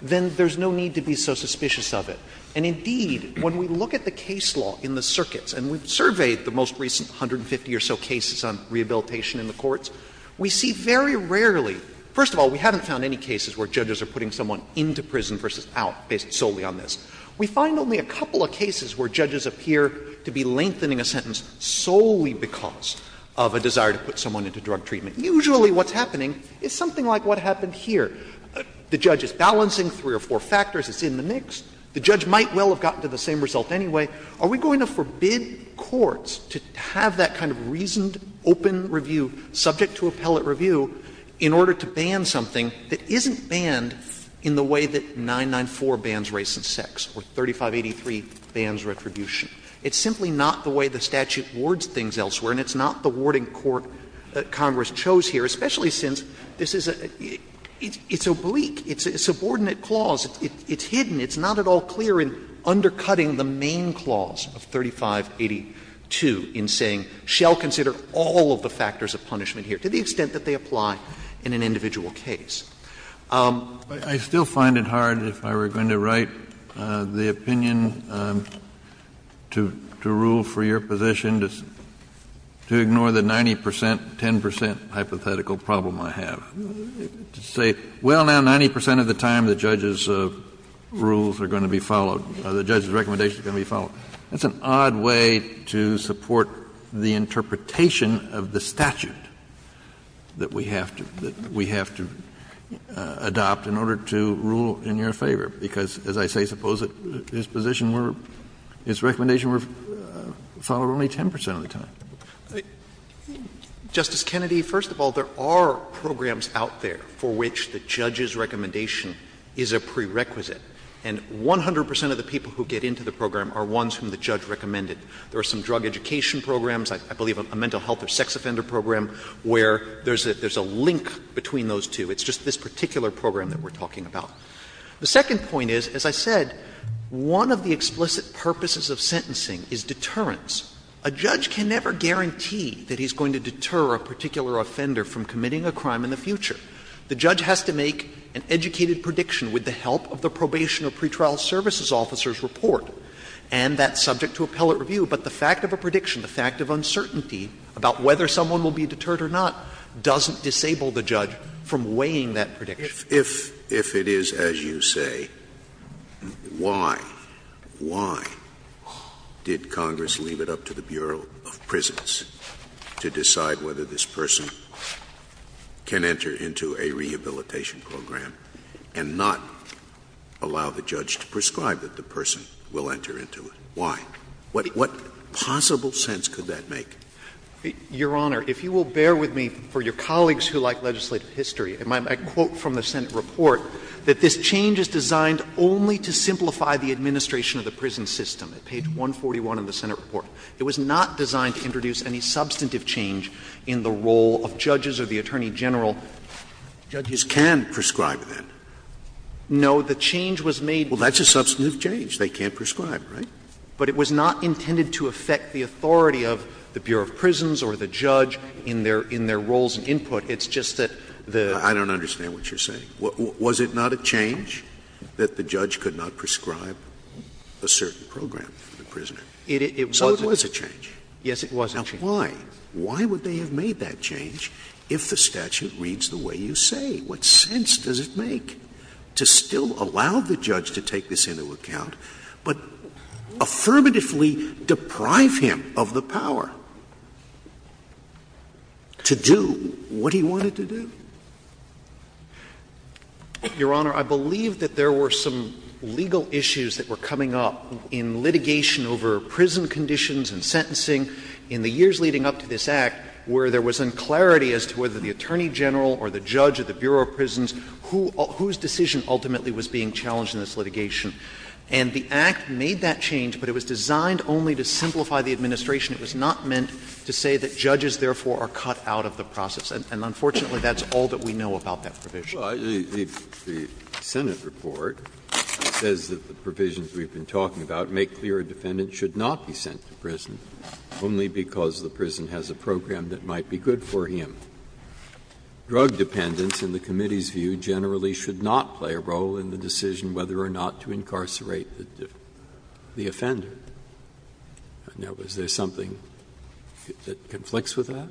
then there's no need to be so suspicious of it. And indeed, when we look at the case law in the circuits, and we've surveyed the most recent 150 or so cases on rehabilitation in the courts, we see very rarely — first of all, we haven't found any cases where judges are putting someone into prison versus out based solely on this. We find only a couple of cases where judges appear to be lengthening a sentence solely because of a desire to put someone into drug treatment. Usually what's happening is something like what happened here. The judge is balancing three or four factors. It's in the mix. The judge might well have gotten to the same result anyway. Are we going to forbid courts to have that kind of reasoned, open review, subject to appellate review, in order to ban something that isn't banned in the way that 994 bans race and sex, or 3583 bans retribution? It's simply not the way the statute wards things elsewhere, and it's not the warding court that Congress chose here, especially since this is a — it's oblique. It's a subordinate clause. It's hidden. It's not at all clear in undercutting the main clause of 3582 in saying, shall consider all of the factors of punishment here, to the extent that they apply in an individual case. Kennedy, I still find it hard, if I were going to write the opinion to rule for your position, to ignore the 90 percent, 10 percent hypothetical problem I have. To say, well, now 90 percent of the time the judge's rules are going to be followed — the judge's recommendations are going to be followed. That's an odd way to support the interpretation of the statute that we have to — that we have to adopt in order to rule in your favor, because, as I say, suppose that his position were — his recommendation were followed only 10 percent of the time. Justice Kennedy, first of all, there are programs out there for which the judge's recommendation is a prerequisite, and 100 percent of the people who get into the program are ones whom the judge recommended. There are some drug education programs, I believe a mental health or sex offender program, where there's a link between those two. It's just this particular program that we're talking about. The second point is, as I said, one of the explicit purposes of sentencing is deterrence. A judge can never guarantee that he's going to deter a particular offender from committing a crime in the future. The judge has to make an educated prediction with the help of the probation or pretrial services officer's report, and that's subject to appellate review. But the fact of a prediction, the fact of uncertainty about whether someone will be deterred or not doesn't disable the judge from weighing that prediction. Scalia. If it is as you say, why, why did Congress leave it up to the Bureau of Prisons to decide whether this person can enter into a rehabilitation program and not allow the judge to prescribe that the person will enter into it? Why? What possible sense could that make? Your Honor, if you will bear with me for your colleagues who like legislative history, my quote from the Senate report, that this change is designed only to simplify the administration of the prison system, at page 141 of the Senate report. It was not designed to introduce any substantive change in the role of judges or the attorney general. Judges can prescribe that. No, the change was made. Well, that's a substantive change. They can't prescribe, right? But it was not intended to affect the authority of the Bureau of Prisons or the judge in their roles and input. It's just that the — I don't understand what you're saying. Was it not a change that the judge could not prescribe a certain program for the prisoner? So it was a change. Yes, it was a change. Now, why? Why would they have made that change if the statute reads the way you say? What sense does it make to still allow the judge to take this into account? But affirmatively deprive him of the power to do what he wanted to do? Your Honor, I believe that there were some legal issues that were coming up in litigation over prison conditions and sentencing in the years leading up to this Act where there was unclarity as to whether the attorney general or the judge or the Bureau of Prisons whose decision ultimately was being challenged in this litigation. And the Act made that change, but it was designed only to simplify the administration. It was not meant to say that judges, therefore, are cut out of the process. And unfortunately, that's all that we know about that provision. Breyer, the Senate report says that the provisions we've been talking about make clear a defendant should not be sent to prison only because the prison has a program that might be good for him. Drug dependence, in the committee's view, generally should not play a role in the decision whether or not to incarcerate the offender. Now, is there something that conflicts with that?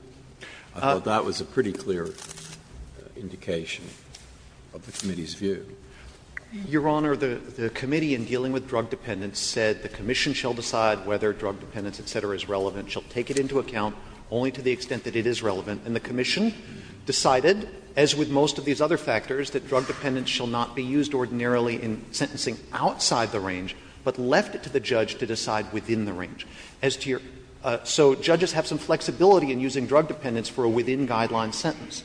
I thought that was a pretty clear indication of the committee's view. Your Honor, the committee in dealing with drug dependence said the commission shall decide whether drug dependence, et cetera, is relevant. She'll take it into account only to the extent that it is relevant. And the commission decided, as with most of these other factors, that drug dependence shall not be used ordinarily in sentencing outside the range, but left it to the judge to decide within the range. As to your — so judges have some flexibility in using drug dependence for a within-guideline sentence.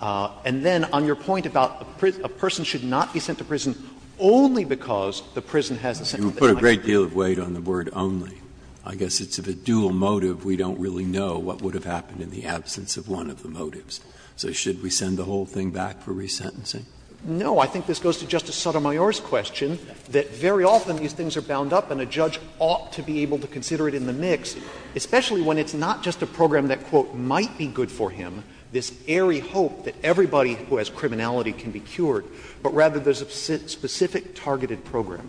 And then on your point about a person should not be sent to prison only because the prison has a set of guidelines. Breyer, you put a great deal of weight on the word only. I guess it's of a dual motive. We don't really know what would have happened in the absence of one of the motives. So should we send the whole thing back for resentencing? No. I think this goes to Justice Sotomayor's question, that very often these things are bound up and a judge ought to be able to consider it in the mix, especially when it's not just a program that, quote, might be good for him, this airy hope that everybody who has criminality can be cured, but rather there's a specific targeted program.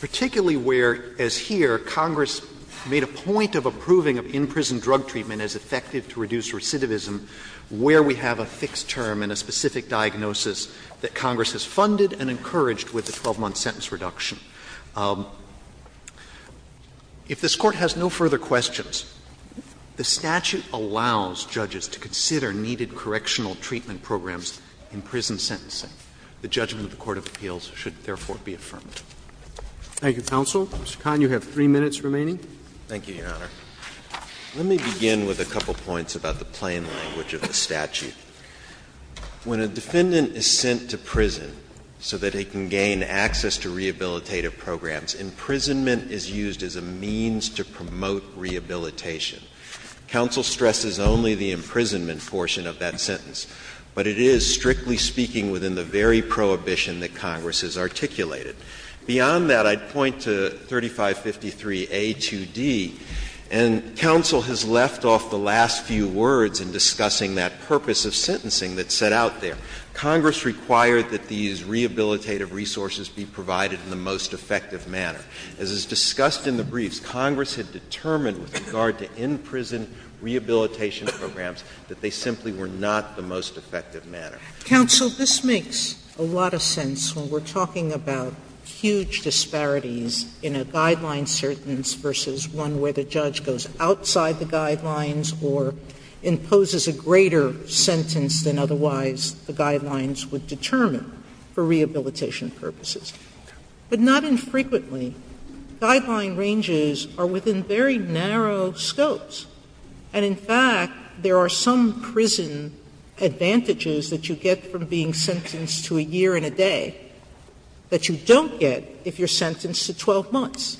Particularly where, as here, Congress made a point of approving of in-prison drug treatment as effective to reduce recidivism where we have a fixed term and a specific diagnosis that Congress has funded and encouraged with the 12-month sentence reduction. If this Court has no further questions, the statute allows judges to consider needed correctional treatment programs in prison sentencing. The judgment of the court of appeals should, therefore, be affirmed. Thank you, counsel. Mr. Kahn, you have three minutes remaining. Thank you, Your Honor. Let me begin with a couple of points about the plain language of the statute. When a defendant is sent to prison so that he can gain access to rehabilitative programs, imprisonment is used as a means to promote rehabilitation. Counsel stresses only the imprisonment portion of that sentence, but it is, strictly speaking, within the very prohibition that Congress has articulated. Beyond that, I'd point to 3553A2D, and counsel has left off the last few words in discussing that purpose of sentencing that's set out there. Congress required that these rehabilitative resources be provided in the most effective manner. As is discussed in the briefs, Congress had determined with regard to in-prison rehabilitation programs that they simply were not the most effective manner. Counsel, this makes a lot of sense when we're talking about huge disparities in a guideline sentence versus one where the judge goes outside the guidelines or imposes a greater sentence than otherwise the guidelines would determine for rehabilitation purposes. But not infrequently, guideline ranges are within very narrow scopes. And in fact, there are some prison advantages that you get from being sentenced to a year and a day that you don't get if you're sentenced to 12 months.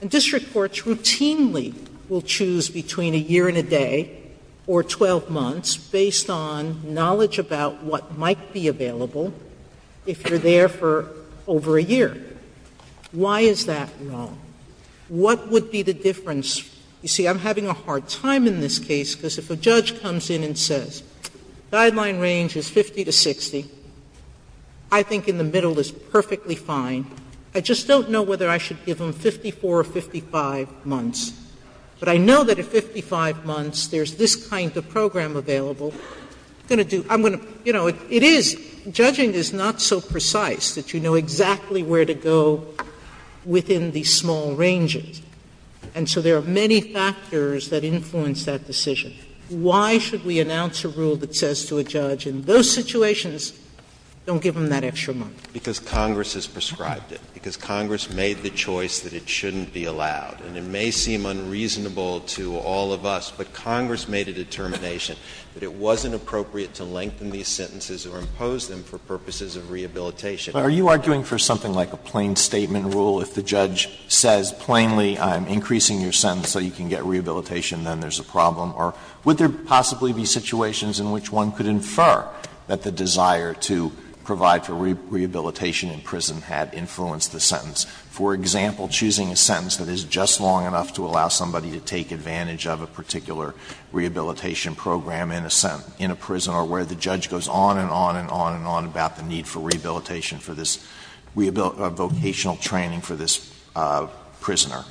And district courts routinely will choose between a year and a day or 12 months based on knowledge about what might be available if you're there for over a year. Why is that wrong? What would be the difference? You see, I'm having a hard time in this case because if a judge comes in and says guideline range is 50 to 60, I think in the middle is perfectly fine. I just don't know whether I should give them 54 or 55 months. But I know that at 55 months there's this kind of program available. I'm going to do — I'm going to — you know, it is — judging is not so precise that you know exactly where to go within these small ranges. And so there are many factors that influence that decision. Why should we announce a rule that says to a judge in those situations, don't give them that extra month? Because Congress has prescribed it. Because Congress made the choice that it shouldn't be allowed. And it may seem unreasonable to all of us, but Congress made a determination that it wasn't appropriate to lengthen these sentences or impose them for purposes of rehabilitation. Alito, are you arguing for something like a plain statement rule? If the judge says plainly, I'm increasing your sentence so you can get rehabilitation, then there's a problem? Or would there possibly be situations in which one could infer that the desire to provide for rehabilitation in prison had influenced the sentence? For example, choosing a sentence that is just long enough to allow somebody to take advantage of a particular rehabilitation program in a prison, or where the judge goes on and on and on and on about the need for rehabilitation for this — vocational training for this prisoner.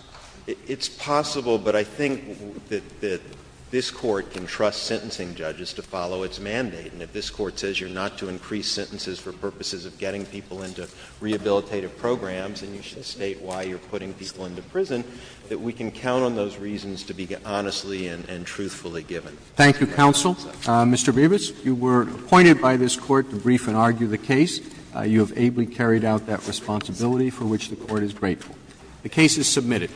It's possible, but I think that this Court can trust sentencing judges to follow its mandate. And if this Court says you're not to increase sentences for purposes of getting people into rehabilitative programs, and you should state why you're putting people into prison, that we can count on those reasons to be honestly and truthfully given. Thank you, counsel. Mr. Brevis, you were appointed by this Court to brief and argue the case. You have ably carried out that responsibility, for which the Court is grateful. The case is submitted.